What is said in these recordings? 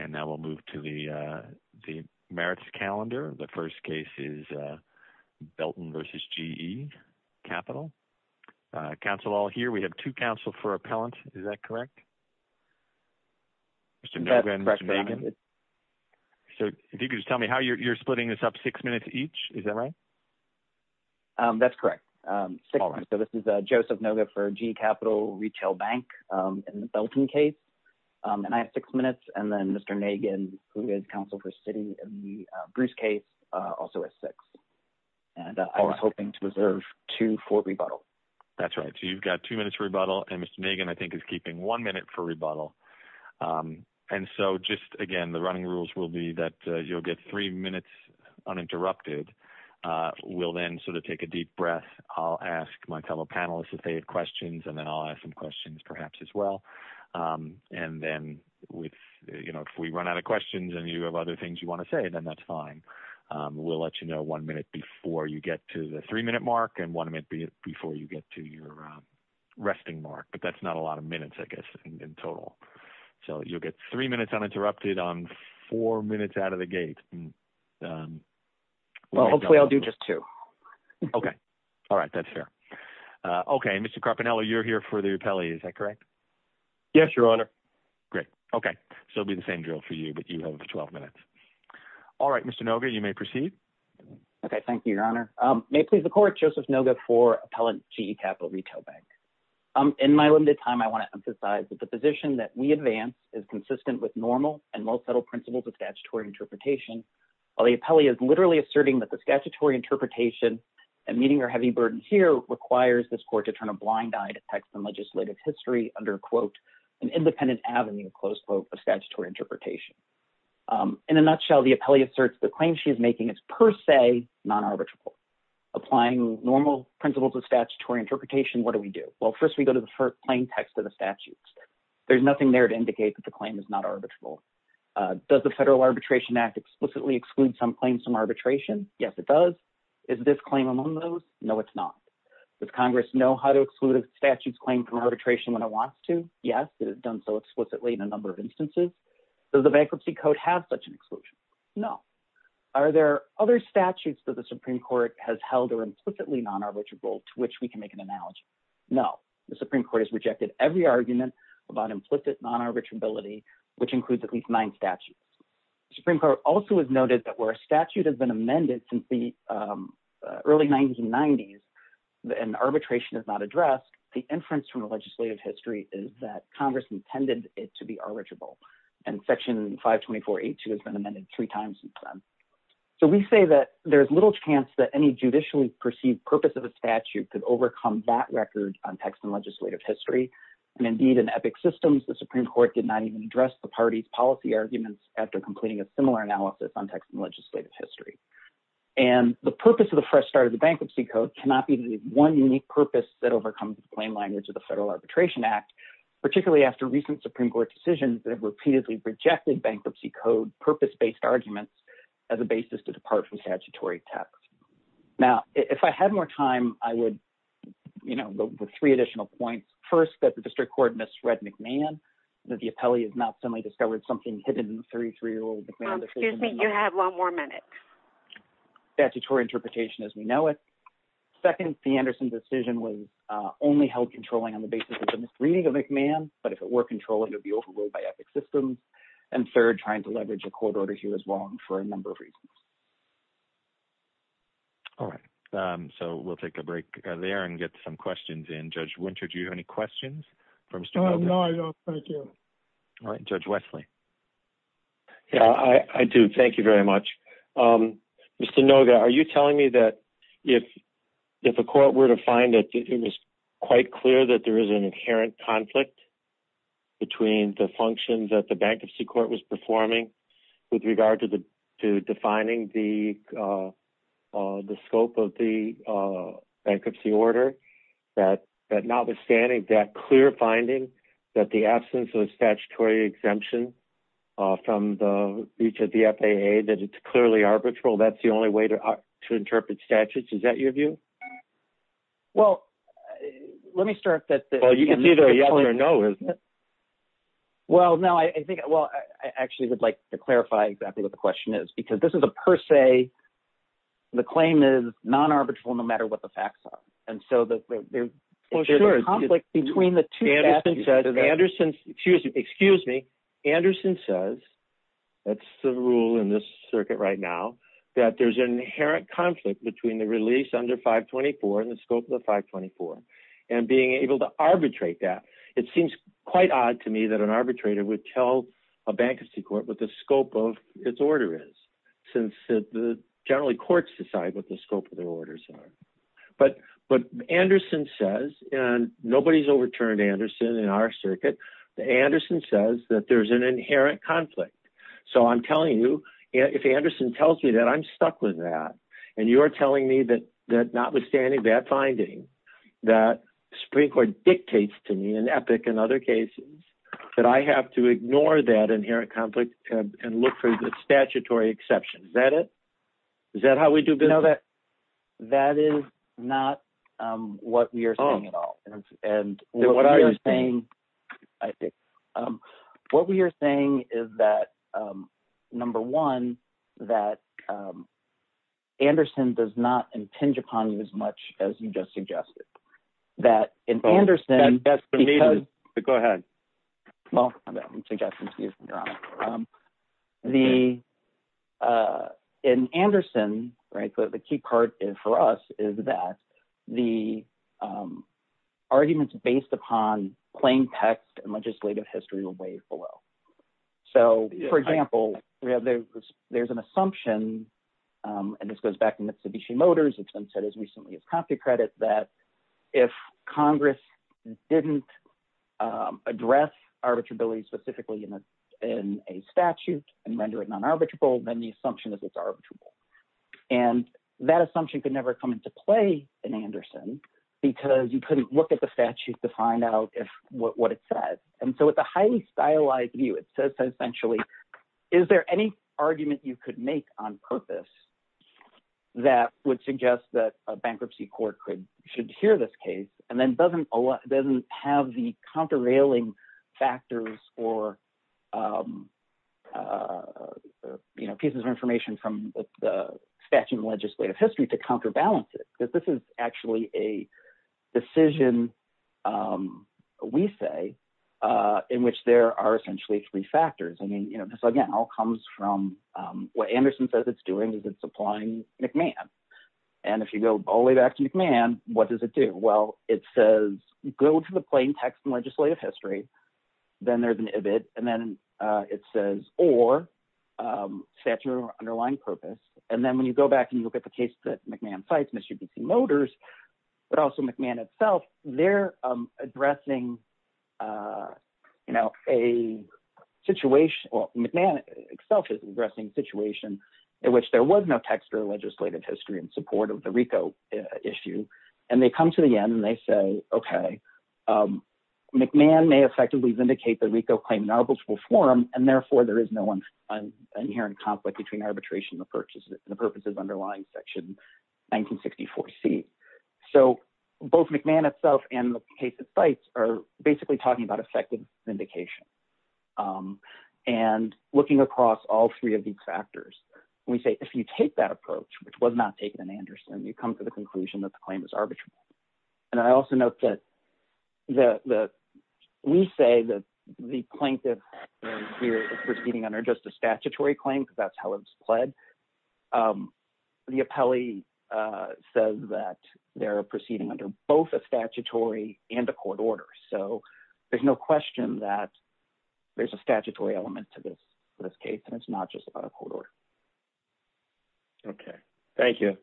and now we'll move to the merits calendar. The first case is Belton versus GE Capital. Counsel all here, we have two counsel for appellant. Is that correct? Mr. Nogan, Mr. Nagan. So, if you could just tell me how you're splitting this up, six minutes each, is that right? That's correct. So, this is Joseph Nogan for GE Capital Retail Bank in the Belton case, and I have six minutes, and then Mr. Nagan, who is counsel for Citi in the Bruce case, also has six. And I was hoping to reserve two for rebuttal. That's right, so you've got two minutes for rebuttal, and Mr. Nagan, I think, is keeping one minute for rebuttal. And so, just again, the running rules will be that you'll get three minutes uninterrupted. We'll then sort of take a deep breath. I'll ask my fellow panelists if they had questions, and then I'll ask some questions, perhaps, as well. And then, if we run out of questions and you have other things you want to say, then that's fine. We'll let you know one minute before you get to the three-minute mark, and one minute before you get to your resting mark, but that's not a lot of minutes, I guess, in total. So, you'll get three minutes uninterrupted on four minutes out of the gate. Well, hopefully, I'll do just two. Okay, all right, that's fair. Okay, Mr. Carpinello, you're here for the appellee, is that correct? Yes, Your Honor. Great, okay, so it'll be the same drill for you, but you have 12 minutes. All right, Mr. Noga, you may proceed. Okay, thank you, Your Honor. May it please the Court, Joseph Noga for Appellant, GE Capital Retail Bank. In my limited time, I want to emphasize that the position that we advance is consistent with normal and well-settled principles of statutory interpretation, while the appellee is literally asserting that the statutory interpretation and meeting our heavy burden here requires this Court to turn a blind eye to text and legislative history under, quote, an independent avenue, close quote, of statutory interpretation. In a nutshell, the appellee asserts the claim she is making is per se non-arbitrable. Applying normal principles of statutory interpretation, what do we do? Well, first, we go to the plain text of the statutes. There's nothing there to indicate that the claim is not arbitrable. Does the Federal Arbitration Act explicitly exclude some claims from arbitration? Yes, it does. Is this claim among those? No, it's not. Does Congress know how to exclude a statute's claim from arbitration when it wants to? Yes, it has done so explicitly in a number of instances. Does the Bankruptcy Code have such an exclusion? No. Are there other statutes that the Supreme Court has held are implicitly non-arbitrable to which we can make an analogy? No. The Supreme Court has rejected every argument about implicit non-arbitrability, which includes at least nine statutes. The Supreme Court also has noted that where a statute has been amended since the early 1990s and arbitration is not addressed, the inference from the legislative history is that Congress intended it to be arbitrable. And Section 524.82 has been amended three times since then. So we say that there's little chance that any judicially perceived purpose of a statute could overcome that record on text and legislative history. And indeed, in epic systems, the Supreme Court did not even address the party's policy arguments after completing a similar analysis on text and legislative history. And the purpose of the fresh start of the Bankruptcy Code cannot be the one unique purpose that overcomes the plain language of the Federal Arbitration Act, particularly after recent Supreme Court decisions that have repeatedly rejected Bankruptcy Code purpose-based arguments as a basis to depart from statutory text. Now, if I had more time, I would, you know, go with three additional points. First, that the district court misread McMahon, that the appellee has not suddenly discovered something hidden in the 33-year-old McMahon- Excuse me, you have one more minute. Statutory interpretation as we know it. Second, the Anderson decision was only held controlling on the basis of the misreading of McMahon, but if it were controlling, it would be overruled by epic systems. And third, trying to leverage a court order here as well for a number of reasons. All right, so we'll take a break there and get some questions in. Judge Winter, do you have any questions for Mr. Noga? No, I don't, thank you. All right, Judge Wesley. Yeah, I do, thank you very much. Mr. Noga, are you telling me that if a court were to find that it was quite clear that there is an inherent conflict between the functions that the bankruptcy court was performing with regard to defining the scope of the bankruptcy order, that notwithstanding that clear finding that the absence of a statutory exemption from the reach of the FAA, that it's clearly arbitral, that's the only way to interpret statutes? Is that your view? Well, let me start that- Well, you can either a yes or no, isn't it? Well, no, I think, well, I actually would like to clarify exactly what the question is, because this is a per se, the claim is non-arbitral no matter what the facts are. And so there's a conflict between the two- Anderson says, excuse me, Anderson says, that's the rule in this circuit right now, that there's an inherent conflict between the release under 524 and the scope of the 524. And being able to arbitrate that, it seems quite odd to me that an arbitrator would tell a bankruptcy court what the scope of its order is since generally courts decide what the scope of their orders are. But Anderson says, and nobody's overturned Anderson in our circuit, that Anderson says that there's an inherent conflict. So I'm telling you, if Anderson tells me that I'm stuck with that, and you're telling me that notwithstanding that finding, that Supreme Court dictates to me in Epic and other cases, that I have to ignore that inherent conflict and look for the statutory exception, is that it? Is that how we do business? That is not what we are saying at all. And what we are saying, I think, what we are saying is that, number one, that Anderson does not impinge upon you as much as you just suggested. That in Anderson- That's the reason, but go ahead. Well, I'm suggesting to you if you're honest. In Anderson, right, the key part for us is that the arguments based upon plain text and legislative history will weigh below. So, for example, there's an assumption, and this goes back to Mitsubishi Motors, it's been said as recently as copy credit, that if Congress didn't address arbitrability specifically in a statute and render it non-arbitrable, then the assumption is it's arbitrable. And that assumption could never come into play in Anderson because you couldn't look at the statute to find out what it says. And so with a highly stylized view, it says that essentially, is there any argument you could make on purpose that would suggest that a bankruptcy court should hear this case and then doesn't have the countervailing factors or pieces of information from the statute and legislative history to counterbalance it? Because this is actually a decision, we say, in which there are essentially three factors. I mean, this, again, all comes from what Anderson says it's doing is it's applying McMahon. And if you go all the way back to McMahon, what does it do? Well, it says, go to the plain text and legislative history, then there's an ivid, and then it says, or statute or underlying purpose. And then when you go back and you look at the case that McMahon cites, Mr. D.C. Motors, but also McMahon itself, they're addressing a situation, well, McMahon itself is addressing a situation in which there was no text or legislative history in support of the RICO issue. And they come to the end and they say, okay, McMahon may effectively vindicate the RICO claim in arbitrable form, and therefore there is no inherent conflict between arbitration and the purposes underlying section 1964C. So both McMahon itself and the case it cites are basically talking about effective vindication. And looking across all three of these factors, we say, if you take that approach, which was not taken in Anderson, you come to the conclusion that the claim is arbitrable. And I also note that we say that the plaintiff here is proceeding under just a statutory claim because that's how it was pled. The appellee says that they're proceeding under both a statutory and a court order. So there's no question that there's a statutory element to this case, and it's not just about a court order. Okay, thank you.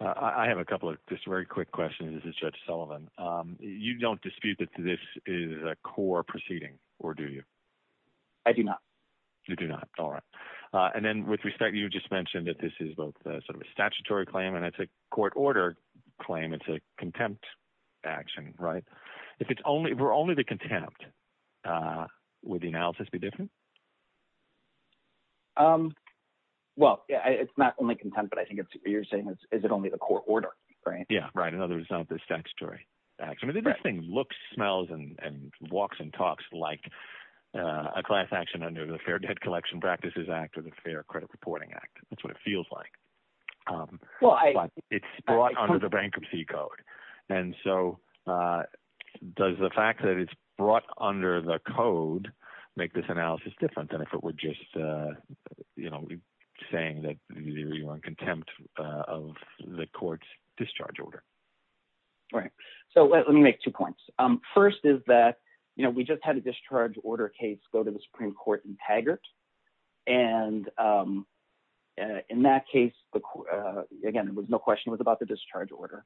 I have a couple of just very quick questions. This is Judge Sullivan. You don't dispute that this is a core proceeding, or do you? I do not. You do not, all right. And then with respect, you just mentioned that this is both sort of a statutory claim and it's a court order claim. It's a contempt action, right? If it's only, if it were only the contempt, would the analysis be different? Well, yeah, it's not only contempt, but I think you're saying is it only the court order, right? Yeah, right, in other words, not the statutory action. I mean, this thing looks, smells, and walks and talks like a class action under the Fair Debt Collection Practices Act or the Fair Credit Reporting Act. That's what it feels like. Well, I- But it's brought under the bankruptcy code. And so does the fact that it's brought under the code make this analysis different than if it were just, you know, saying that you're on contempt of the court's discharge order? Right, so let me make two points. First is that, you know, we just had a discharge order case go to the Supreme Court in Taggart, and in that case, again, there was no question it was about the discharge order.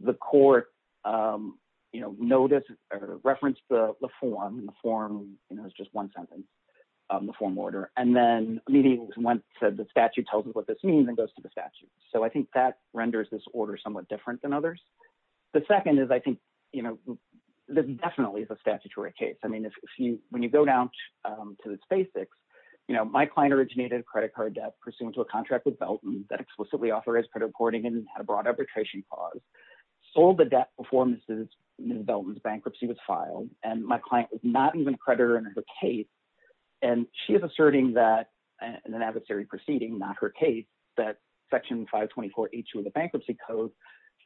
The court, you know, noticed or referenced the form, and the form, you know, it was just one sentence, the form order, and then immediately went to the statute, tells us what this means, and goes to the statute. So I think that renders this order somewhat different than others. The second is, I think, you know, this definitely is a statutory case. I mean, if you, when you go down to this basics, you know, my client originated a credit card debt pursuant to a contract with Belton that explicitly authorized credit reporting and had a broad arbitration clause, sold the debt before Mrs. Belton's bankruptcy was filed, and my client was not even a creditor in her case, and she is asserting that, in an adversary proceeding, not her case, that section 524H of the bankruptcy code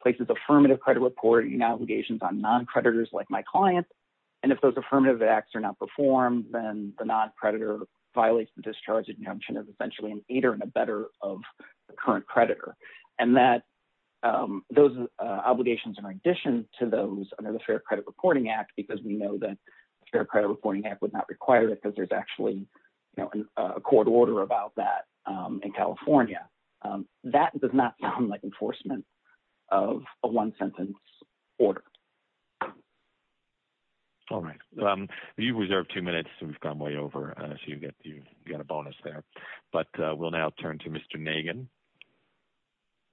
places affirmative credit reporting obligations on non-creditors like my client, and if those affirmative acts are not performed, then the non-creditor violates the discharge injunction as essentially an aider and a better of the current creditor, and that those obligations, in addition to those under the Fair Credit Reporting Act, because we know that the Fair Credit Reporting Act would not require it because there's actually, you know, a court order about that in California. That does not sound like enforcement of a one-sentence order. All right. You've reserved two minutes, so we've gone way over, so you've got a bonus there, but we'll now turn to Mr. Nagin.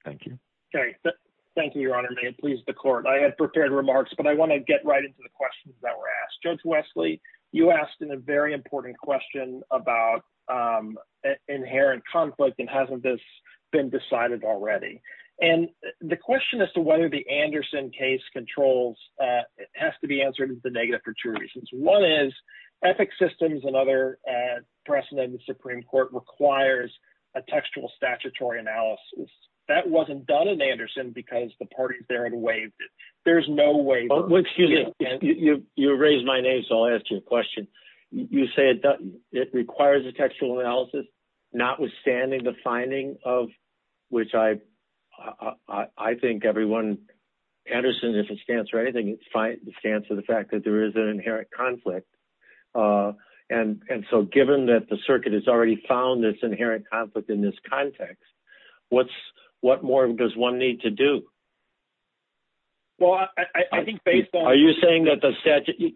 Thank you. Thank you, Your Honor. May it please the Court. I had prepared remarks, but I want to get right into the questions that were asked. Judge Wesley, you asked a very important question about inherent conflict, and hasn't this been decided already? And the question as to whether the Anderson case controls has to be answered as a negative for two reasons. One is, ethic systems and other precedent in the Supreme Court requires a textual statutory analysis. That wasn't done in Anderson because the parties there had waived it. There's no waiver. Well, excuse me. You raised my name, so I'll ask you a question. You say it requires a textual analysis, notwithstanding the finding of which I think everyone, Anderson, if it stands for anything, it stands for the fact that there is an inherent conflict, and so given that the circuit has already found this inherent conflict in this context, what more does one need to do? Well, I think based on... Are you saying that the statute...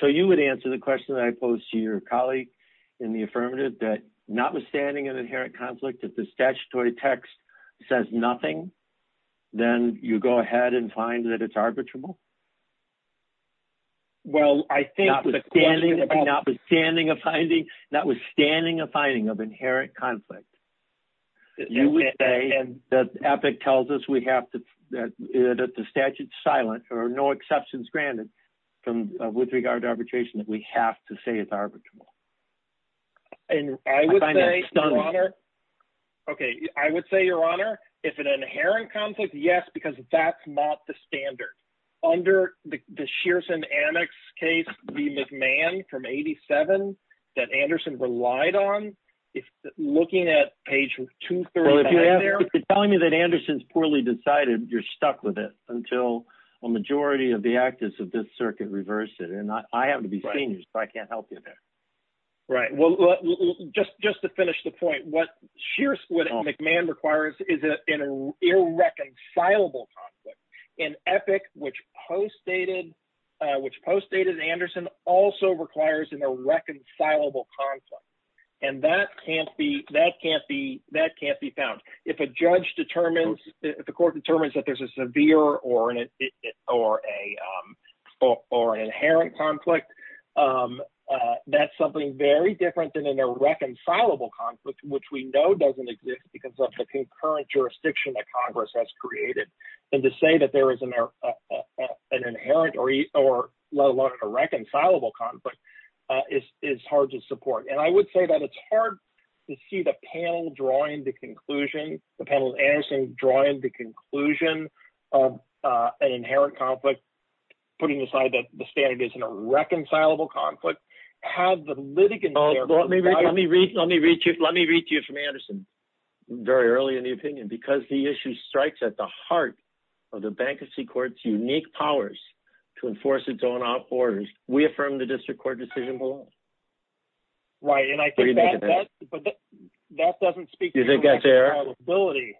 So you would answer the question that I posed to your colleague in the affirmative that notwithstanding an inherent conflict, if the statutory text says nothing, then you go ahead and find that it's arbitrable? Well, I think the question... Notwithstanding a finding, notwithstanding a finding of inherent conflict, you would say that ethic tells us we have to, that the statute's silent or no exceptions granted with regard to arbitration that we have to say it's arbitrable. And I would say, Your Honor... Inherent conflict, yes, because that's not the standard. Under the Shearson-Annex case, the McMahon from 87 that Anderson relied on, looking at page 239 there... Well, if you're telling me that Anderson's poorly decided, you're stuck with it until a majority of the activists of this circuit reverse it, and I happen to be senior, so I can't help you there. Right, well, just to finish the point, what McMahon requires is an irreconcilable conflict. An ethic which postdated Anderson also requires an irreconcilable conflict, and that can't be found. If a judge determines, if the court determines that there's a severe or an inherent conflict, that's something very different than an irreconcilable conflict, which we know doesn't exist because of the concurrent jurisdiction that Congress has created. And to say that there is an inherent or let alone an irreconcilable conflict is hard to support. And I would say that it's hard to see the panel drawing the conclusion, the panel of Anderson drawing the conclusion of an inherent conflict, putting aside that the standard is an irreconcilable conflict, have the litigant... Let me read to you from Anderson very early in the opinion, because the issue strikes at the heart of the bankruptcy court's unique powers to enforce its own orders, we affirm the district court decision below. Right, and I think that doesn't speak to reconcilability.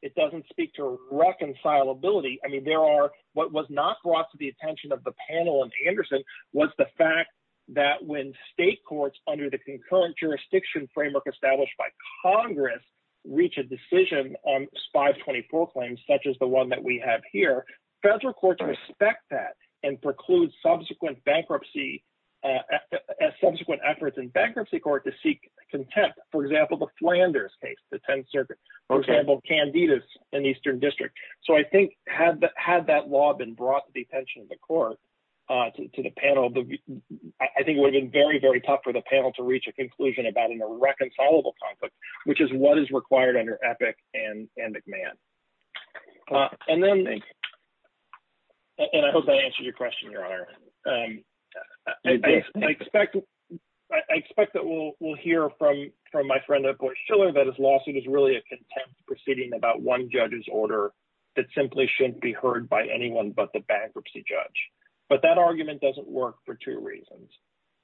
It doesn't speak to reconcilability. I mean, there are, what was not brought to the attention of the panel and Anderson was the fact that when state courts under the concurrent jurisdiction framework established by Congress, reach a decision on 524 claims, such as the one that we have here, federal courts respect that and preclude subsequent bankruptcy, subsequent efforts in bankruptcy court to seek contempt. For example, the Flanders case, the 10th Circuit, for example, Candidas in Eastern District. So I think had that law been brought to the attention of the court, to the panel, I think it would have been very, very tough for the panel to reach a conclusion about an irreconcilable conflict, which is what is required under EPIC and McMahon. And then, and I hope that answers your question, Your Honor. I expect that we'll hear from my friend at Bush Schiller that his lawsuit is really a contempt proceeding about one judge's order that simply shouldn't be heard by anyone but the bankruptcy judge. But that argument doesn't work for two reasons.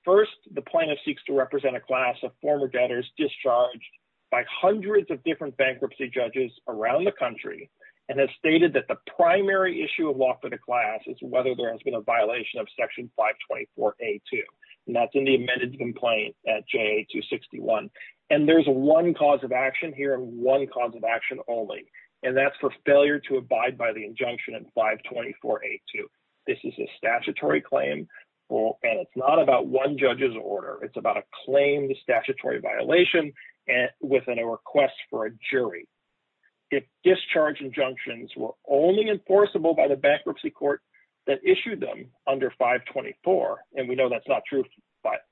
First, the plaintiff seeks to represent a class of former debtors discharged by hundreds of different bankruptcy judges around the country, and has stated that the primary issue of law for the class is whether there has been a violation of section 524A2. And that's in the amended complaint at JA 261. And there's a one cause of action here and one cause of action only, and that's for failure to abide by the injunction in 524A2. This is a statutory claim, and it's not about one judge's order. It's about a claim to statutory violation within a request for a jury. If discharge injunctions were only enforceable by the bankruptcy court that issued them under 524, and we know that's not true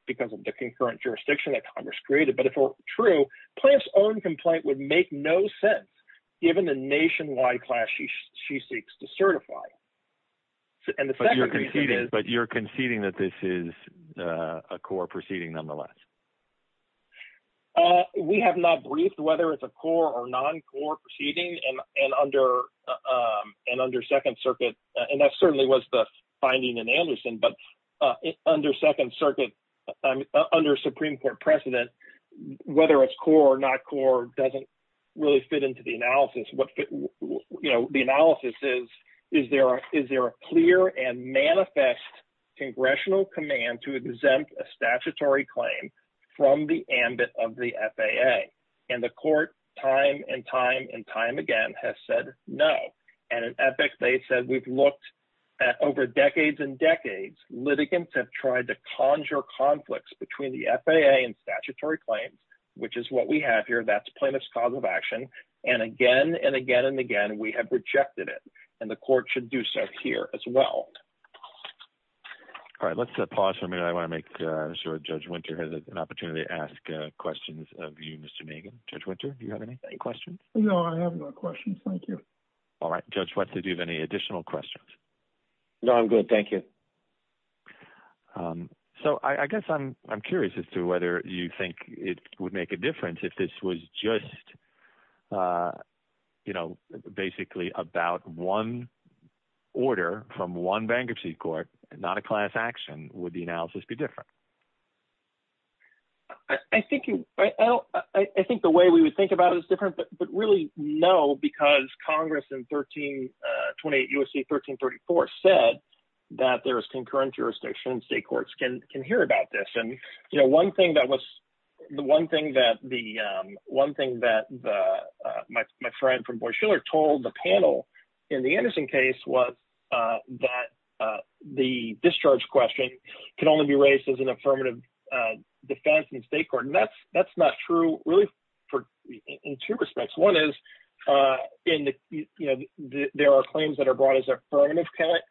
because of the concurrent jurisdiction that Congress created, but if it were true, plaintiff's own complaint would make no sense given the nationwide class she seeks to certify. And the second thing is- But you're conceding that this is a core proceeding nonetheless. We have not briefed whether it's a core or non-core proceeding, and under Second Circuit, and that certainly was the finding in Anderson, but under Second Circuit, under Supreme Court precedent, whether it's core or not core doesn't really fit into the analysis. What the analysis is, is there a clear and manifest congressional command to exempt a statutory claim from the ambit of the FAA? And the court time and time and time again has said no. And in ethics, they've said, we've looked at over decades and decades, litigants have tried to conjure conflicts between the FAA and statutory claims, which is what we have here. That's plaintiff's cause of action. And again, and again, and again, we have rejected it. And the court should do so here as well. All right, let's pause for a minute. I wanna make sure Judge Winter has an opportunity to ask questions of you, Mr. Megan. Judge Winter, do you have any questions? No, I have no questions, thank you. All right, Judge Wetzel, do you have any additional questions? No, I'm good, thank you. So I guess I'm curious as to whether you think it would make a difference if this was just basically about one order from one bankruptcy court, not a class action, would the analysis be different? I think the way we would think about it is different, but really, no, because Congress in 28 U.S.C. 1334 said that there is concurrent jurisdiction and state courts can hear about this. And one thing that my friend from Boise Schiller told the panel in the Anderson case was that the discharge question can only be raised as an affirmative defense in the state court. And that's not true, really, in two respects. One is there are claims that are brought as affirmative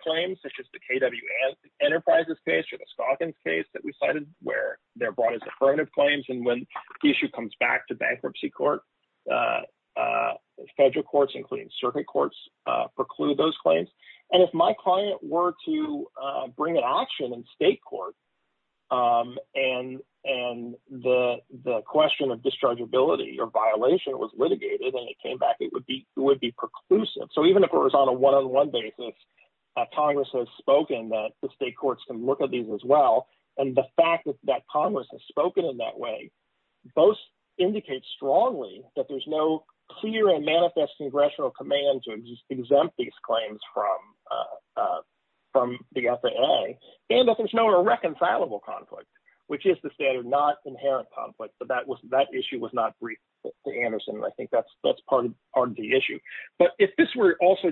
claims, such as the KW Enterprises case or the Skagans case that we cited where they're brought as affirmative claims. And when the issue comes back to bankruptcy court, federal courts, including circuit courts, preclude those claims. And if my client were to bring an action in state court and the question of dischargeability or violation was litigated and it came back, it would be preclusive. So even if it was on a one-on-one basis, Congress has spoken that the state courts can look at these as well. And the fact that Congress has spoken in that way, both indicate strongly that there's no clear and manifest congressional command to exempt these claims from the FAA. And that there's no irreconcilable conflict, which is the standard, not inherent conflict. But that issue was not briefed to Anderson. And I think that's part of the issue. But if this were also,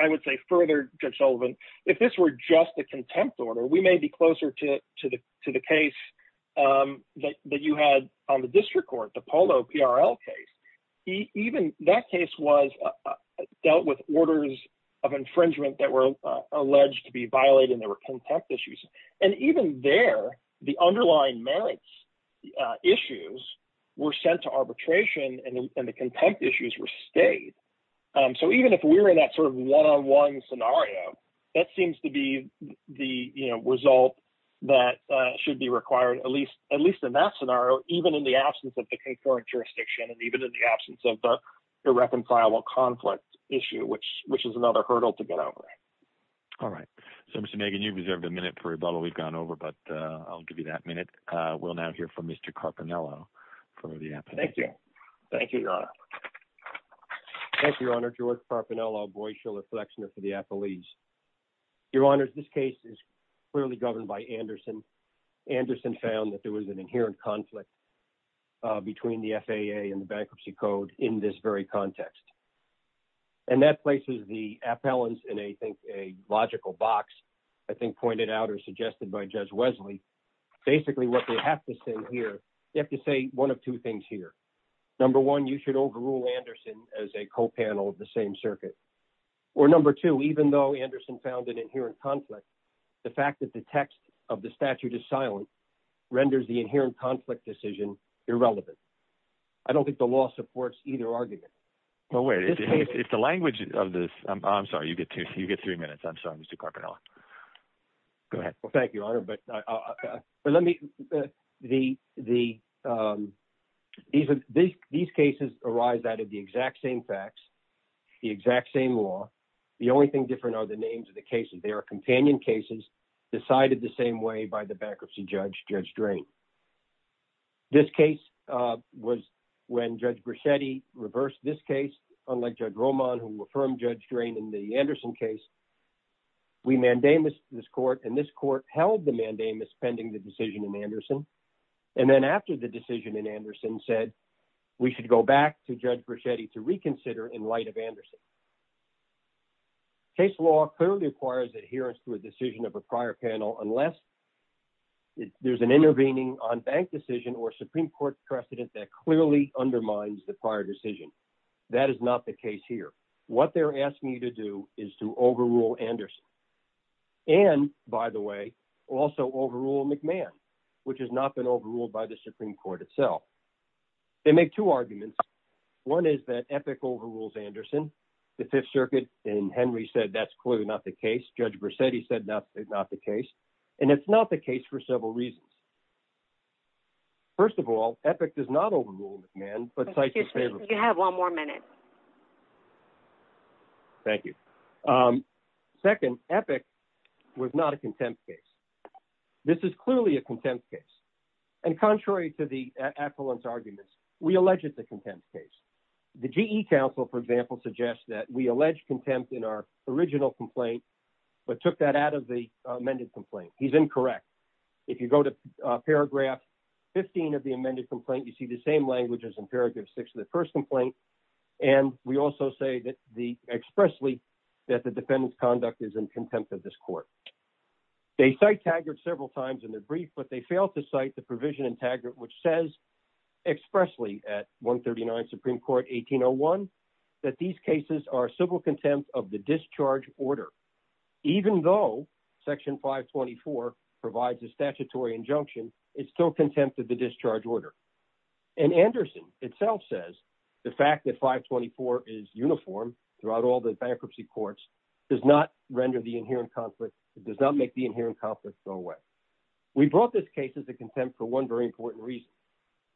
I would say further, Judge Sullivan, if this were just a contempt order, we may be closer to the case that you had on the district court, the Polo PRL case. Even that case dealt with orders of infringement that were alleged to be violated and there were contempt issues. And even there, the underlying merits issues were sent to arbitration and the contempt issues were stayed. So even if we were in that sort of one-on-one scenario, that seems to be the result that should be required, at least in that scenario, even in the absence of the concurrent jurisdiction and even in the absence of the irreconcilable conflict issue, which is another hurdle to get over. All right. So Mr. Megan, you've reserved a minute for rebuttal, we've gone over, but I'll give you that minute. We'll now hear from Mr. Carpinello for the appellate. Thank you. Thank you, Your Honor. Thank you, Your Honor. I'm George Carpinello, Boy Schiller Flexner for the appellees. Your Honor, this case is clearly governed by Anderson. Anderson found that there was an inherent conflict between the FAA and the Bankruptcy Code in this very context. And that places the appellants in a logical box, I think pointed out or suggested by Judge Wesley. Basically what they have to say here, they have to say one of two things here. Number one, you should overrule Anderson as a co-panel of the same circuit. Or number two, even though Anderson found an inherent conflict, the fact that the text of the statute is silent, renders the inherent conflict decision irrelevant. I don't think the law supports either argument. Well, wait, if the language of this, I'm sorry, you get three minutes. I'm sorry, Mr. Carpinello. Go ahead. Well, thank you, Your Honor, but let me, these cases arise out of the exact same facts, the exact same law. The only thing different are the names of the cases. They are companion cases decided the same way by the bankruptcy judge, Judge Drain. This case was when Judge Brichetti reversed this case, unlike Judge Roman who affirmed Judge Drain in the Anderson case. We mandamus this court and this court held the mandamus pending the decision in Anderson. And then after the decision in Anderson said, we should go back to Judge Brichetti to reconsider in light of Anderson. Case law clearly requires adherence to a decision of a prior panel, unless there's an intervening on bank decision or Supreme Court precedent that clearly undermines the prior decision. That is not the case here. What they're asking you to do is to overrule Anderson. And by the way, also overrule McMahon, which has not been overruled by the Supreme Court itself. They make two arguments. One is that Epic overrules Anderson, the Fifth Circuit and Henry said, that's clearly not the case. Judge Brichetti said, that is not the case. And it's not the case for several reasons. First of all, Epic does not overrule McMahon, but Sisyphus- You have one more minute. Thank you. Second, Epic was not a contempt case. This is clearly a contempt case. And contrary to the affluence arguments, we alleged the contempt case. The GE Council, for example, suggests that we allege contempt in our original complaint, but took that out of the amended complaint. He's incorrect. If you go to paragraph 15 of the amended complaint, you see the same language as in paragraph six of the first complaint. And we also say that the expressly, that the defendant's conduct is in contempt of this court. They cite Taggart several times in their brief, but they fail to cite the provision in Taggart, which says expressly at 139 Supreme Court 1801, that these cases are civil contempt of the discharge order. Even though section 524 provides a statutory injunction, it's still contempt of the discharge order. And Anderson itself says the fact that 524 is uniform throughout all the bankruptcy courts does not render the inherent conflict, it does not make the inherent conflict go away. We brought this case as a contempt for one very important reason.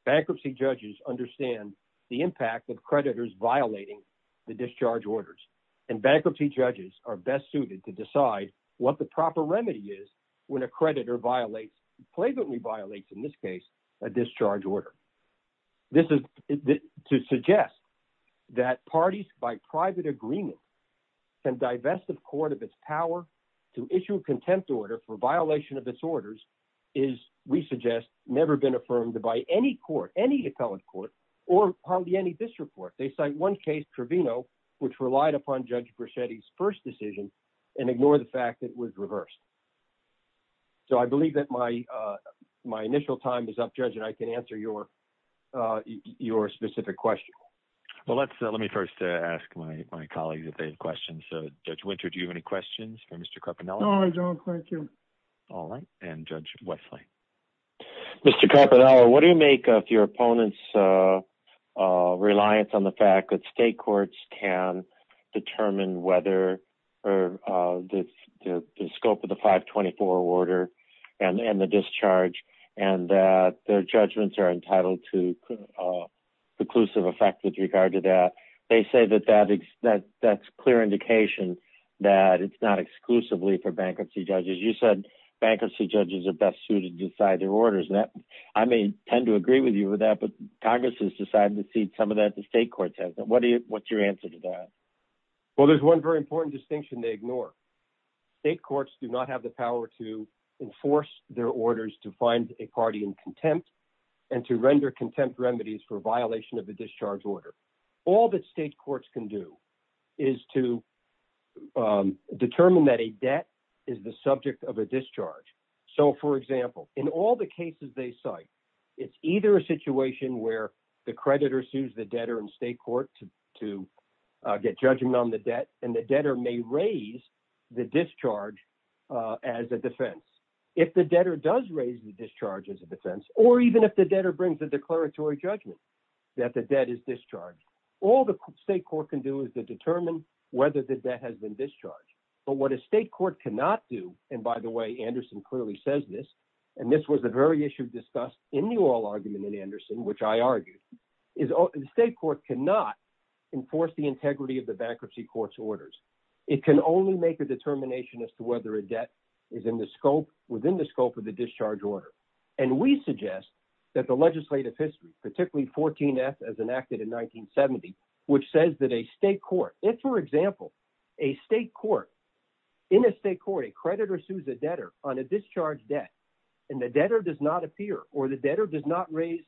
Bankruptcy judges understand the impact of creditors violating the discharge orders. And bankruptcy judges are best suited to decide what the proper remedy is when a creditor violates, blatantly violates in this case, a discharge order. To suggest that parties by private agreement can divest the court of its power to issue a contempt order for violation of its orders is, we suggest, never been affirmed by any court, any appellate court, or hardly any district court. They cite one case, Trevino, which relied upon Judge Brachetti's first decision and ignore the fact that it was reversed. So I believe that my initial time is up, Judge, and I can answer your specific question. Well, let me first ask my colleagues if they have questions. So Judge Winter, do you have any questions for Mr. Carpanello? No, I don't, thank you. All right, and Judge Wesley. Mr. Carpanello, what do you make of your opponent's reliance on the fact that state courts can determine whether the scope of the 524 order and the discharge, and that their judgments are entitled to conclusive effect with regard to that? They say that that's clear indication that it's not exclusively for bankruptcy judges. You said bankruptcy judges are best suited to decide their orders. I may tend to agree with you with that, but Congress has decided to cede some of that to state courts, hasn't it? What's your answer to that? Well, there's one very important distinction they ignore. State courts do not have the power to enforce their orders to find a party in contempt and to render contempt remedies for violation of the discharge order. All that state courts can do is to determine that a debt is the subject of a discharge. So for example, in all the cases they cite, it's either a situation where the creditor sues the debtor and state court to get judgment on the debt and the debtor may raise the discharge as a defense. If the debtor does raise the discharge as a defense, or even if the debtor brings a declaratory judgment that the debt is discharged, all the state court can do is to determine whether the debt has been discharged. But what a state court cannot do, and by the way, Anderson clearly says this, and this was the very issue discussed in the oral argument in Anderson, which I argued, is the state court cannot enforce the integrity of the bankruptcy court's orders. It can only make a determination as to whether a debt is within the scope of the discharge order. And we suggest that the legislative history, particularly 14F as enacted in 1970, which says that a state court, if for example, a state court, in a state court, a creditor sues a debtor on a discharge debt and the debtor does not appear or the debtor does not raise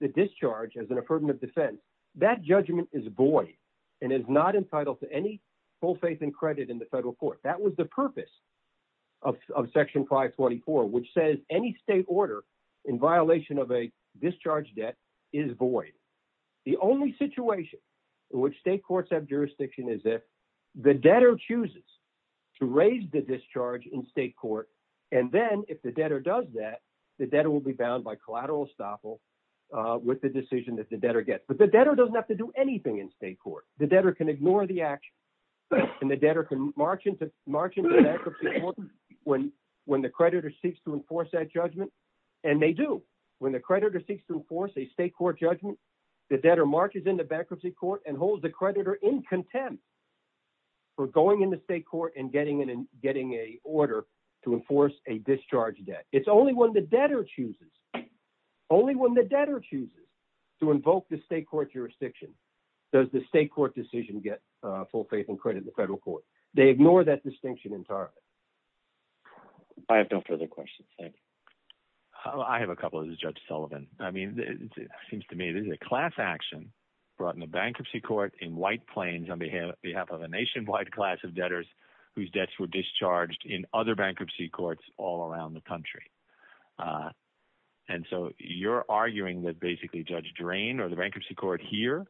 the discharge as an affirmative defense, that judgment is void and is not entitled to any full faith and credit in the federal court. That was the purpose of section 524, which says any state order in violation of a discharge debt is void. The only situation in which state courts have jurisdiction is if the debtor chooses to raise the discharge in state court, and then if the debtor does that, the debtor will be bound by collateral estoppel with the decision that the debtor gets. But the debtor doesn't have to do anything in state court. The debtor can ignore the action and the debtor can march into bankruptcy court when the creditor seeks to enforce that judgment. And they do. When the creditor seeks to enforce a state court judgment, the debtor marches into bankruptcy court and holds the creditor in contempt for going into state court and getting a order to enforce a discharge debt. It's only when the debtor chooses, only when the debtor chooses to invoke the state court jurisdiction, does the state court decision get full faith and credit in the federal court. They ignore that distinction entirely. I have no further questions, thank you. I have a couple, this is Judge Sullivan. I mean, it seems to me this is a class action brought in a bankruptcy court in White Plains on behalf of a nationwide class of debtors whose debts were discharged in other bankruptcy courts all around the country. And so you're arguing that basically Judge Drain or the bankruptcy court here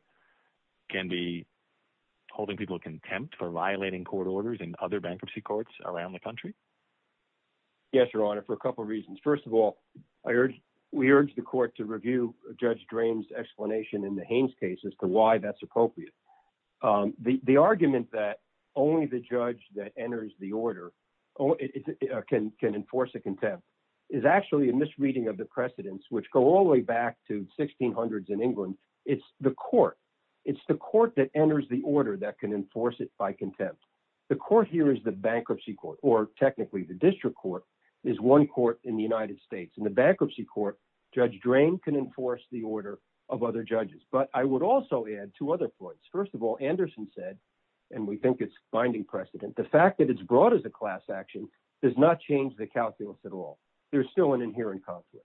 can be holding people contempt for violating court orders in other bankruptcy courts around the country? Yes, Your Honor, for a couple of reasons. First of all, we urge the court to review Judge Drain's explanation in the Haines case as to why that's appropriate. The argument that only the judge that enters the order can enforce a contempt is actually a misreading of the precedents which go all the way back to 1600s in England. It's the court, it's the court that enters the order that can enforce it by contempt. The court here is the bankruptcy court or technically the district court is one court in the United States. In the bankruptcy court, Judge Drain can enforce the order of other judges. But I would also add two other points. First of all, Anderson said, and we think it's finding precedent, the fact that it's brought as a class action does not change the calculus at all. There's still an inherent conflict.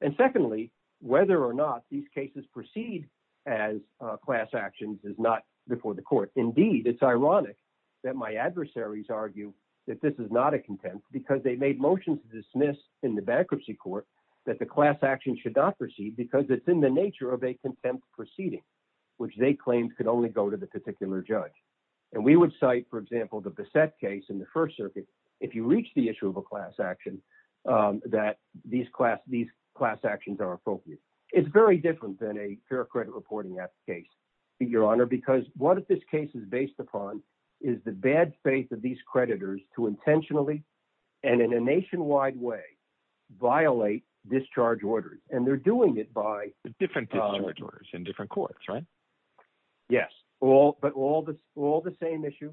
And secondly, whether or not these cases proceed as class actions is not before the court. Indeed, it's ironic that my adversaries argue that this is not a contempt because they made motions to dismiss in the bankruptcy court that the class action should not proceed because it's in the nature of a contempt proceeding, which they claimed could only go to the particular judge. And we would cite, for example, the Bassett case in the First Circuit. If you reach the issue of a class action, that these class actions are appropriate. It's very different than a fair credit reporting case, Your Honor, because what this case is based upon is the bad faith of these creditors to intentionally and in a nationwide way violate discharge orders. And they're doing it by- Different discharge orders in different courts, right? Yes, but all the same issue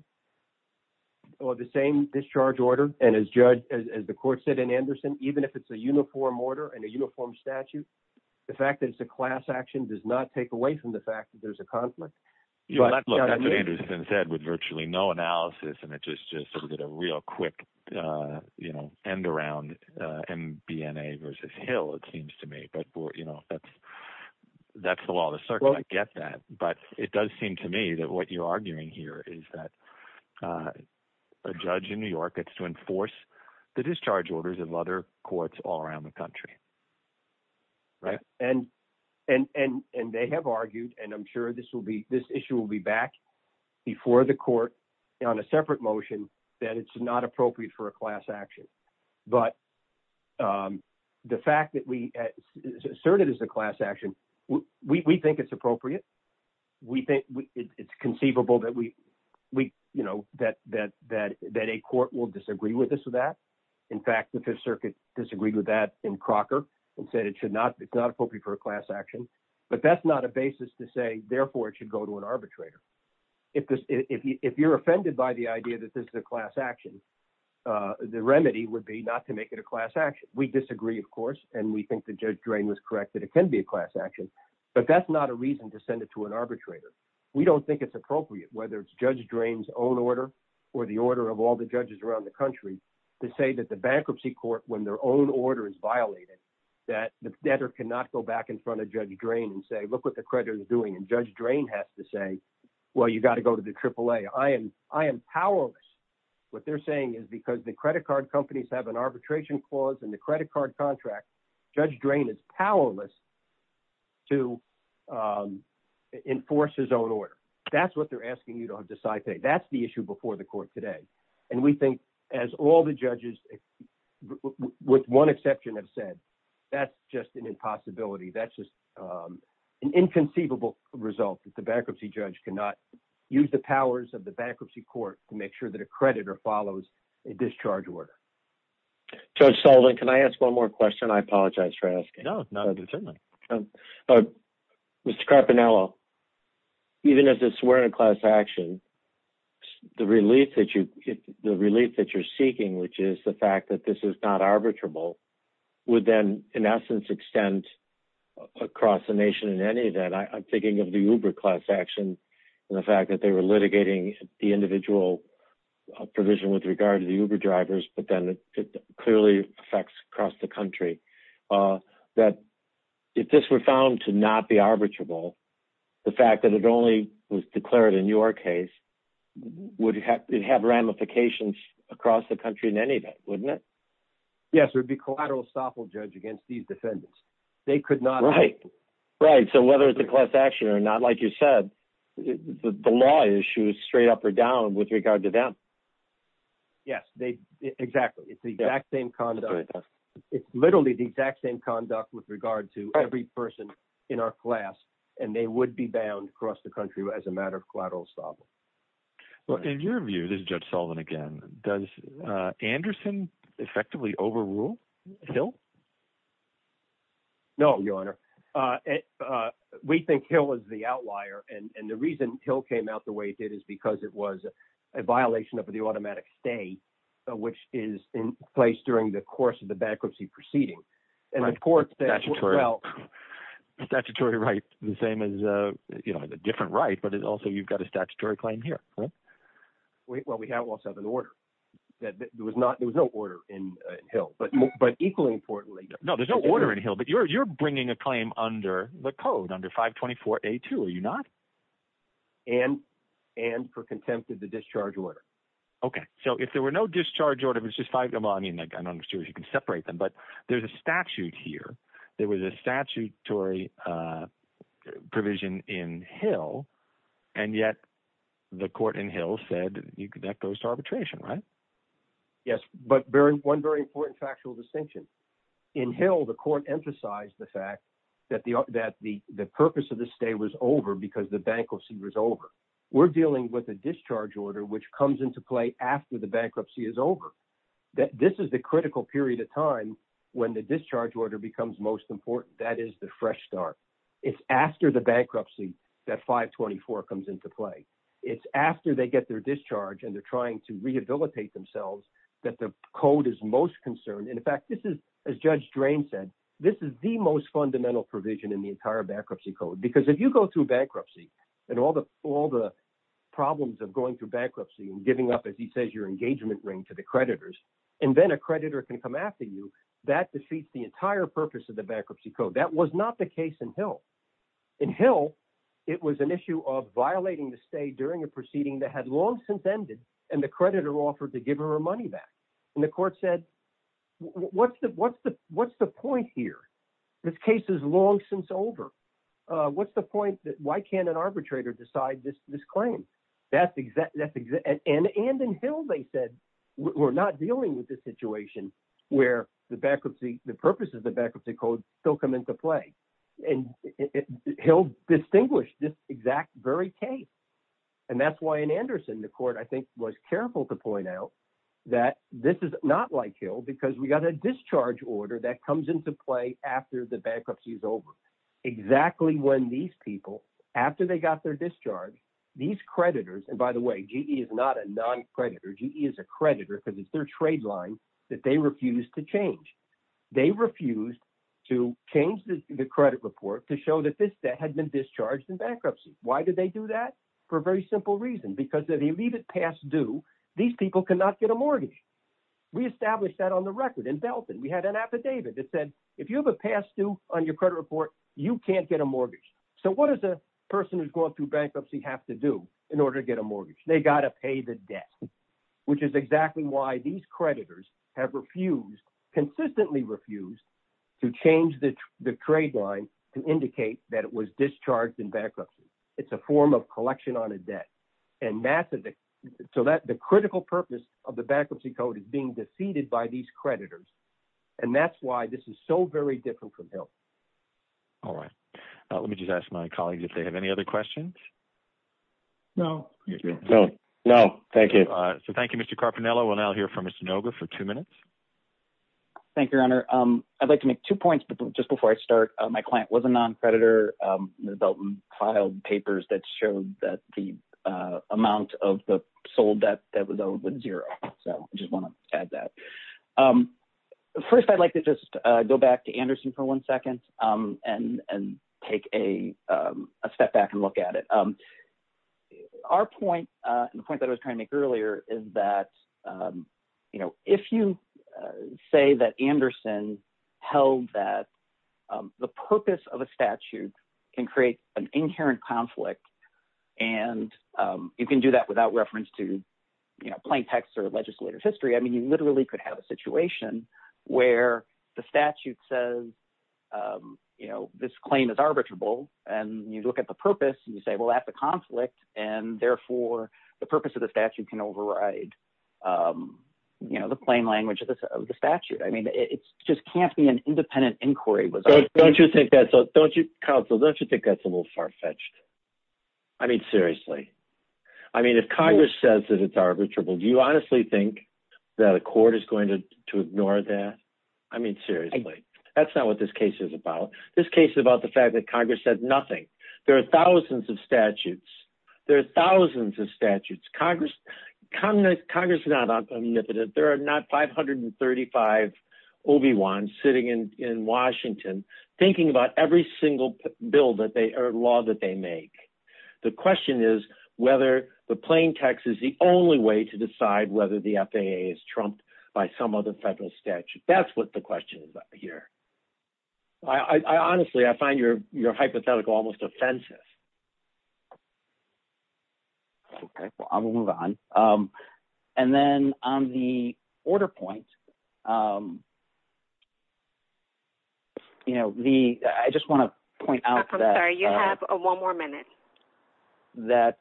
or the same discharge order, and as the court said in Anderson, even if it's a uniform order and a uniform statute, the fact that it's a class action does not take away from the fact that there's a conflict. You know, that's what Anderson said with virtually no analysis. And it just sort of did a real quick, you know, end around MBNA versus Hill, it seems to me. But, you know, that's the law of the circuit, I get that. But it does seem to me that what you're arguing here is that a judge in New York gets to enforce the discharge orders in other courts all around the country, right? And they have argued, and I'm sure this issue will be back before the court on a separate motion that it's not appropriate for a class action. But the fact that we assert it as a class action, we think it's appropriate. We think it's conceivable that we, you know, that a court will disagree with this or that. In fact, the Fifth Circuit disagreed with that in Crocker and said it's not appropriate for a class action. But that's not a basis to say, therefore it should go to an arbitrator. If you're offended by the idea that this is a class action, the remedy would be not to make it a class action. We disagree, of course, and we think that Judge Drain was correct that it can be a class action. But that's not a reason to send it to an arbitrator. We don't think it's appropriate, whether it's Judge Drain's own order or the order of all the judges around the country to say that the bankruptcy court, when their own order is violated, that the debtor cannot go back in front of Judge Drain and say, look what the creditor is doing. And Judge Drain has to say, well, you gotta go to the AAA. I am powerless. What they're saying is because the credit card companies have an arbitration clause and the credit card contract, Judge Drain is powerless. To enforce his own order. That's what they're asking you to have decide today. That's the issue before the court today. And we think as all the judges, with one exception have said, that's just an impossibility. That's just an inconceivable result that the bankruptcy judge cannot use the powers of the bankruptcy court to make sure that a creditor follows a discharge order. Judge Sullivan, can I ask one more question? I apologize for asking. No, not at this time. Mr. Carpinello, even as a swear in a class action, the relief that you're seeking, which is the fact that this is not arbitrable, would then in essence extend across the nation in any of that. I'm thinking of the Uber class action and the fact that they were litigating the individual provision with regard to the Uber drivers, but then it clearly affects across the country. That if this were found to not be arbitrable, the fact that it only was declared in your case, would it have ramifications across the country in any event, wouldn't it? Yes, there'd be collateral estoppel judge against these defendants. They could not- Right, right. So whether it's a class action or not, like you said, the law issues straight up or down with regard to them. Yes, exactly. It's the exact same conduct. It's literally the exact same conduct with regard to every person in our class and they would be bound across the country as a matter of collateral estoppel. Well, in your view, this is Judge Sullivan again, does Anderson effectively overrule Hill? No, your honor. We think Hill was the outlier and the reason Hill came out the way it did is because it was a violation of the automatic stay, which is in place during the course of the bankruptcy proceeding. And the court- Statutory. Well, statutory right, the same as a different right, but it also, you've got a statutory claim here, right? Well, we have also an order. There was no order in Hill, but equally importantly- No, there's no order in Hill, but you're bringing a claim under the code, under 524A2, are you not? And for contempt of the discharge order. Okay, so if there were no discharge order, it was just five, I mean, I don't understand if you can separate them, but there's a statute here. There was a statutory provision in Hill, and yet the court in Hill said that goes to arbitration, right? Yes, but one very important factual distinction. In Hill, the court emphasized the fact that the purpose of the stay was over because the bankruptcy was over. We're dealing with a discharge order, which comes into play after the bankruptcy is over, that this is the critical period of time when the discharge order becomes most important. That is the fresh start. It's after the bankruptcy that 524 comes into play. It's after they get their discharge and they're trying to rehabilitate themselves that the code is most concerned. And in fact, this is, as Judge Drain said, this is the most fundamental provision in the entire bankruptcy code, because if you go through bankruptcy and all the problems of going through bankruptcy and giving up, as he says, your engagement ring to the creditors, and then a creditor can come after you, that defeats the entire purpose of the bankruptcy code. That was not the case in Hill. In Hill, it was an issue of violating the stay during a proceeding that had long since ended and the creditor offered to give her her money back. And the court said, what's the point here? This case is long since over. What's the point that, why can't an arbitrator decide this claim? And in Hill, they said, we're not dealing with this situation where the purpose of the bankruptcy code still come into play. And Hill distinguished this exact very case. And that's why in Anderson, the court, I think, was careful to point out that this is not like Hill, because we got a discharge order that comes into play after the bankruptcy is over. Exactly when these people, after they got their discharge, these creditors, and by the way, GE is not a non-creditor, GE is a creditor, because it's their trade line that they refused to change. They refused to change the credit report to show that this debt had been discharged in bankruptcy. Why did they do that? For a very simple reason, because if you leave it past due, these people cannot get a mortgage. We established that on the record in Belton. We had an affidavit that said, if you have a past due on your credit report, you can't get a mortgage. So what does a person who's going through bankruptcy have to do in order to get a mortgage? They gotta pay the debt, which is exactly why these creditors have refused, consistently refused, to change the trade line to indicate that it was discharged in bankruptcy. It's a form of collection on a debt. And so the critical purpose of the bankruptcy code is being defeated by these creditors. And that's why this is so very different from health. All right, let me just ask my colleagues if they have any other questions. No. No, thank you. So thank you, Mr. Carpinello. We'll now hear from Mr. Noga for two minutes. Thank you, Your Honor. I'd like to make two points just before I start. My client was a non-creditor. The Belton filed papers that showed that the amount of the sold debt that was owed was zero. So I just want to add that. First, I'd like to just go back to Anderson for one second and take a step back and look at it. Our point, and the point that I was trying to make earlier, is that if you say that Anderson held that the purpose of a statute can create an inherent conflict, and you can do that without reference to plain text or legislative history, I mean, you literally could have a situation where the statute says this claim is arbitrable, and you look at the purpose, and you say, well, that's a conflict, and therefore, the purpose of the statute can override the plain language of the statute. I mean, it just can't be an independent inquiry. Don't you think that's a little far-fetched? I mean, seriously. I mean, if Congress says that it's arbitrable, do you honestly think that a court is going to ignore that? I mean, seriously. That's not what this case is about. This case is about the fact that Congress said nothing. There are thousands of statutes. There are thousands of statutes. Congress is not omnipotent. There are not 535 Obi-Wans sitting in Washington thinking about every single law that they make. The question is whether the plain text is the only way to decide whether the FAA is trumped by some other federal statute. That's what the question is about here. I honestly, I find your hypothetical almost offensive. Okay, well, I'm gonna move on. And then on the order point, I just want to point out that- I'm sorry, you have one more minute. That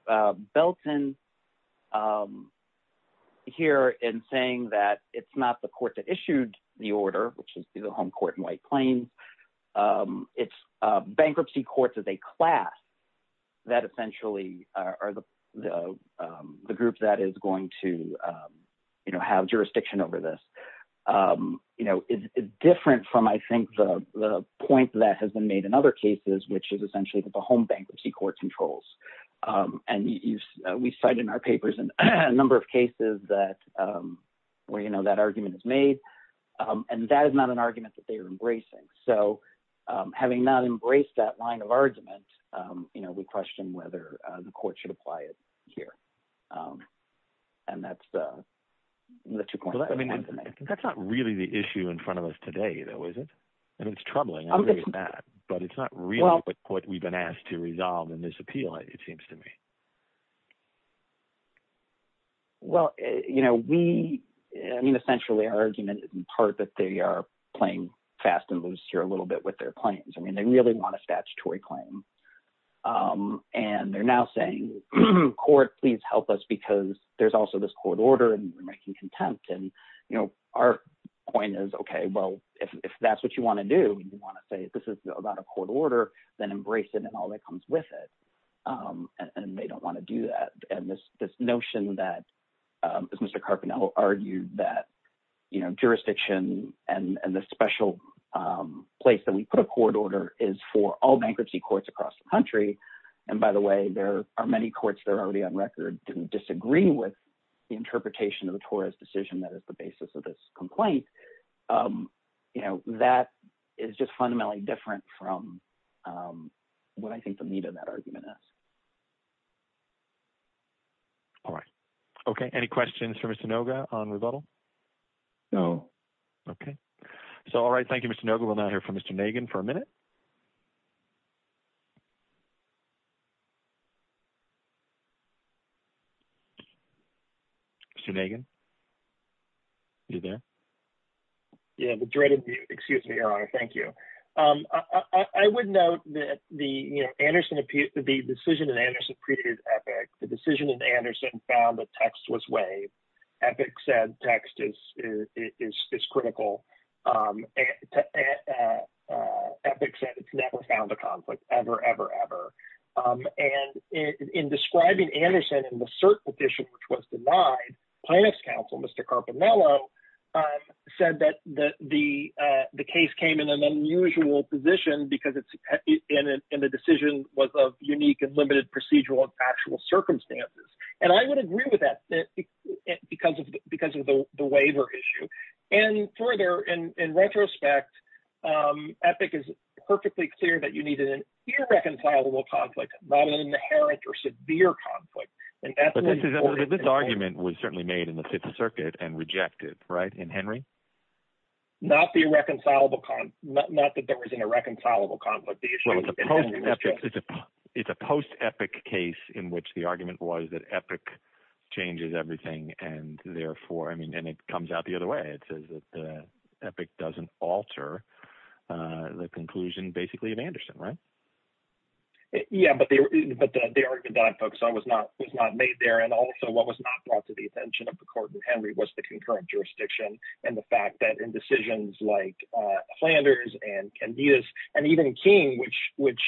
Belton here in saying that it's not the court that issued the order, which is the home court in White Plains. It's bankruptcy courts as a class that essentially are the group that is going to have jurisdiction over this. It's different from, I think, the point that has been made in other cases, which is essentially that the home bankruptcy courts have the most controls. And we cite in our papers in a number of cases that where that argument is made, and that is not an argument that they are embracing. So having not embraced that line of argument, we question whether the court should apply it here. And that's the two points I wanted to make. That's not really the issue in front of us today, though, is it? And it's troubling, I agree with that, but it's not really what we've been asked to resolve in this appeal, it seems to me. Well, we, I mean, essentially our argument in part that they are playing fast and loose here a little bit with their claims. I mean, they really want a statutory claim. And they're now saying, court, please help us because there's also this court order and we're making contempt. And our point is, okay, well, if that's what you wanna do, and you wanna say, this is about a court order, then embrace it and all that comes with it. And they don't wanna do that. And this notion that, as Mr. Carpinello argued, that jurisdiction and the special place that we put a court order is for all bankruptcy courts across the country. And by the way, there are many courts that are already on record didn't disagree with the interpretation of the Torres decision that is the basis of this complaint. That is just fundamentally different from what I think the need of that argument is. All right. Okay, any questions for Mr. Noga on rebuttal? No. Okay. So, all right. Thank you, Mr. Noga. We'll now hear from Mr. Nagin for a minute. Mr. Nagin, you there? Yeah, the dreaded, excuse me, Your Honor. Thank you. I would note that the decision in Anderson preceded Epic. The decision in Anderson found that text was waived. Epic said text is critical. Epic said it's never found a conflict, ever, ever, ever. And in describing Anderson in the cert petition which was denied, plaintiff's counsel, Mr. Carpinello, said that the case came in an unusual position because the decision was of unique and limited procedural and factual circumstances. And I would agree with that because of the waiver issue. And further, in retrospect, Epic is perfectly clear that you needed an irreconcilable conflict, not an inherent or severe conflict. And Epic- But this argument was certainly made in the Fifth Circuit and rejected, right? In Henry? Not the irreconcilable conflict. Not that there was an irreconcilable conflict. The issue in Henry was just- It's a post-Epic case in which the argument was that Epic changes everything. And therefore, I mean, and it comes out the other way. It says that Epic doesn't alter the conclusion basically of Anderson, right? Yeah, but the argument that I put was not made there. And also what was not brought to the attention of the court in Henry was the concurrent jurisdiction and the fact that in decisions like Flanders and Candidas and even King, which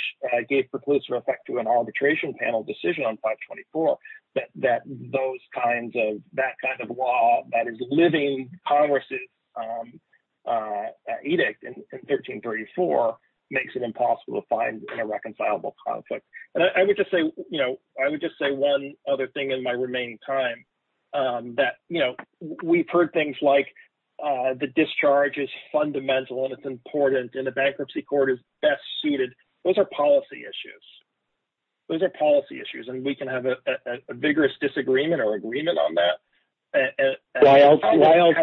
gave preclusive effect to an arbitration panel decision on 524, that those kinds of, that kind of law that is living Congress's edict in 1334 makes it impossible to find an irreconcilable conflict. And I would just say, you know, I would just say one other thing in my remaining time that, you know, we've heard things like the discharge is fundamental and it's important and the bankruptcy court is best suited. Those are policy issues. Those are policy issues. And we can have a vigorous disagreement or agreement on that. Why else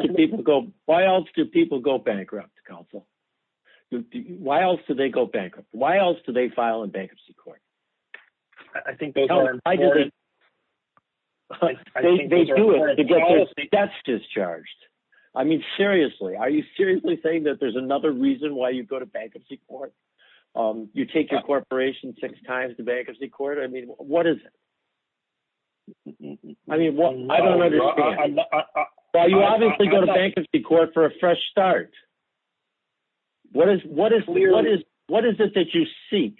do people go bankrupt, counsel? Why else do they go bankrupt? Why else do they file a bankruptcy court? I think those are important. They do it to get their debts discharged. I mean, seriously, are you seriously saying that there's another reason why you'd go to bankruptcy court? You take your corporation six times to bankruptcy court. I mean, what is it? I mean, I don't understand. Why you obviously go to bankruptcy court for a fresh start. What is it that you seek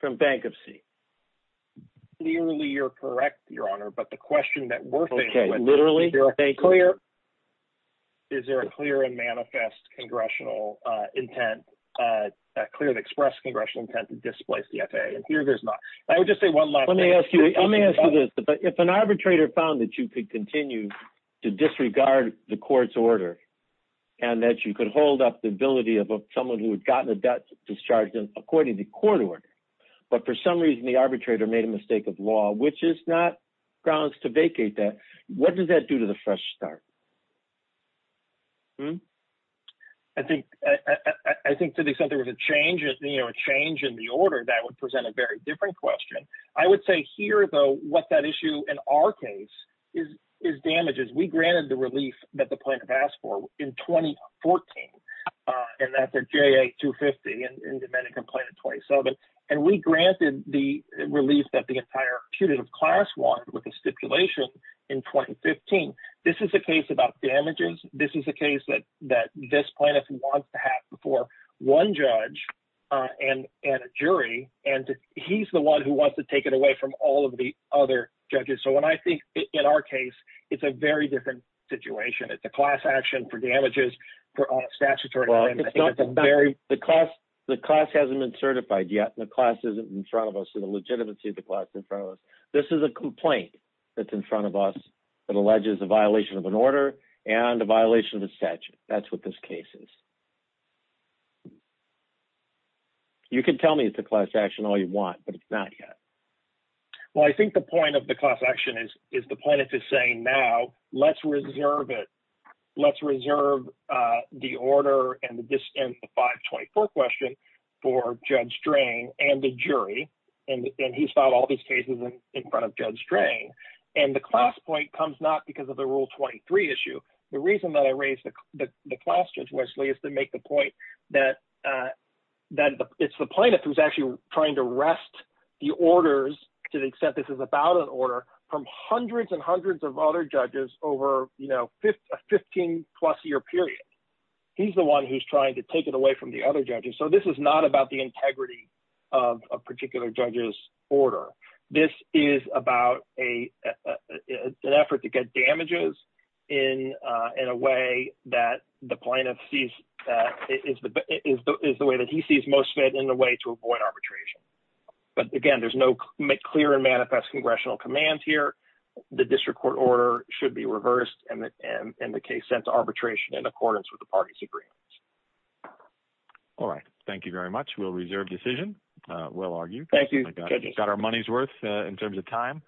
from bankruptcy? Clearly you're correct, your honor, but the question that we're thinking with- Okay, literally? Is there a clear and manifest congressional intent, a clear and expressed congressional intent to displace the FAA? And here there's not. I would just say one last thing. Let me ask you this. If an arbitrator found that you could continue to disregard the court's order and that you could hold up the ability of someone who had gotten a debt discharged according to court order, but for some reason the arbitrator made a mistake of law, which is not grounds to vacate that, what does that do to the fresh start? I think to the extent there was a change in the order, that would present a very different question. I would say here though, what that issue in our case is damages. We granted the relief that the plaintiff asked for in 2014 and that's a JA-250 in Dominican Plaintiff 20. And we granted the relief that the entire accusative class wanted with a stipulation in 2015. This is a case about damages. This is a case that this plaintiff wants to have before one judge and a jury. And he's the one who wants to take it away from all of the other judges. So when I think in our case, it's a very different situation. It's a class action for damages for all statutory- The class hasn't been certified yet. The class isn't in front of us. So the legitimacy of the class in front of us, this is a complaint that's in front of us that alleges a violation of an order and a violation of the statute. That's what this case is. You can tell me it's a class action all you want, but it's not yet. Well, I think the point of the class action is the plaintiff is saying now, let's reserve it. This is a 24 question for Judge Drang and the jury. And he's filed all these cases in front of Judge Drang. And the class point comes not because of the rule 23 issue. The reason that I raised the class judicially is to make the point that it's the plaintiff who's actually trying to wrest the orders to the extent this is about an order from hundreds and hundreds of other judges over a 15 plus year period. He's the one who's trying to take it away from the other judges. So this is not about the integrity of a particular judge's order. This is about an effort to get damages in a way that the plaintiff sees that is the way that he sees most fit in a way to avoid arbitration. But again, there's no clear and manifest congressional commands here. The district court order should be reversed and the case sent to arbitration in accordance with the party's agreements. All right. Thank you very much. We'll reserve decision. We'll argue. Thank you. Got our money's worth in terms of time.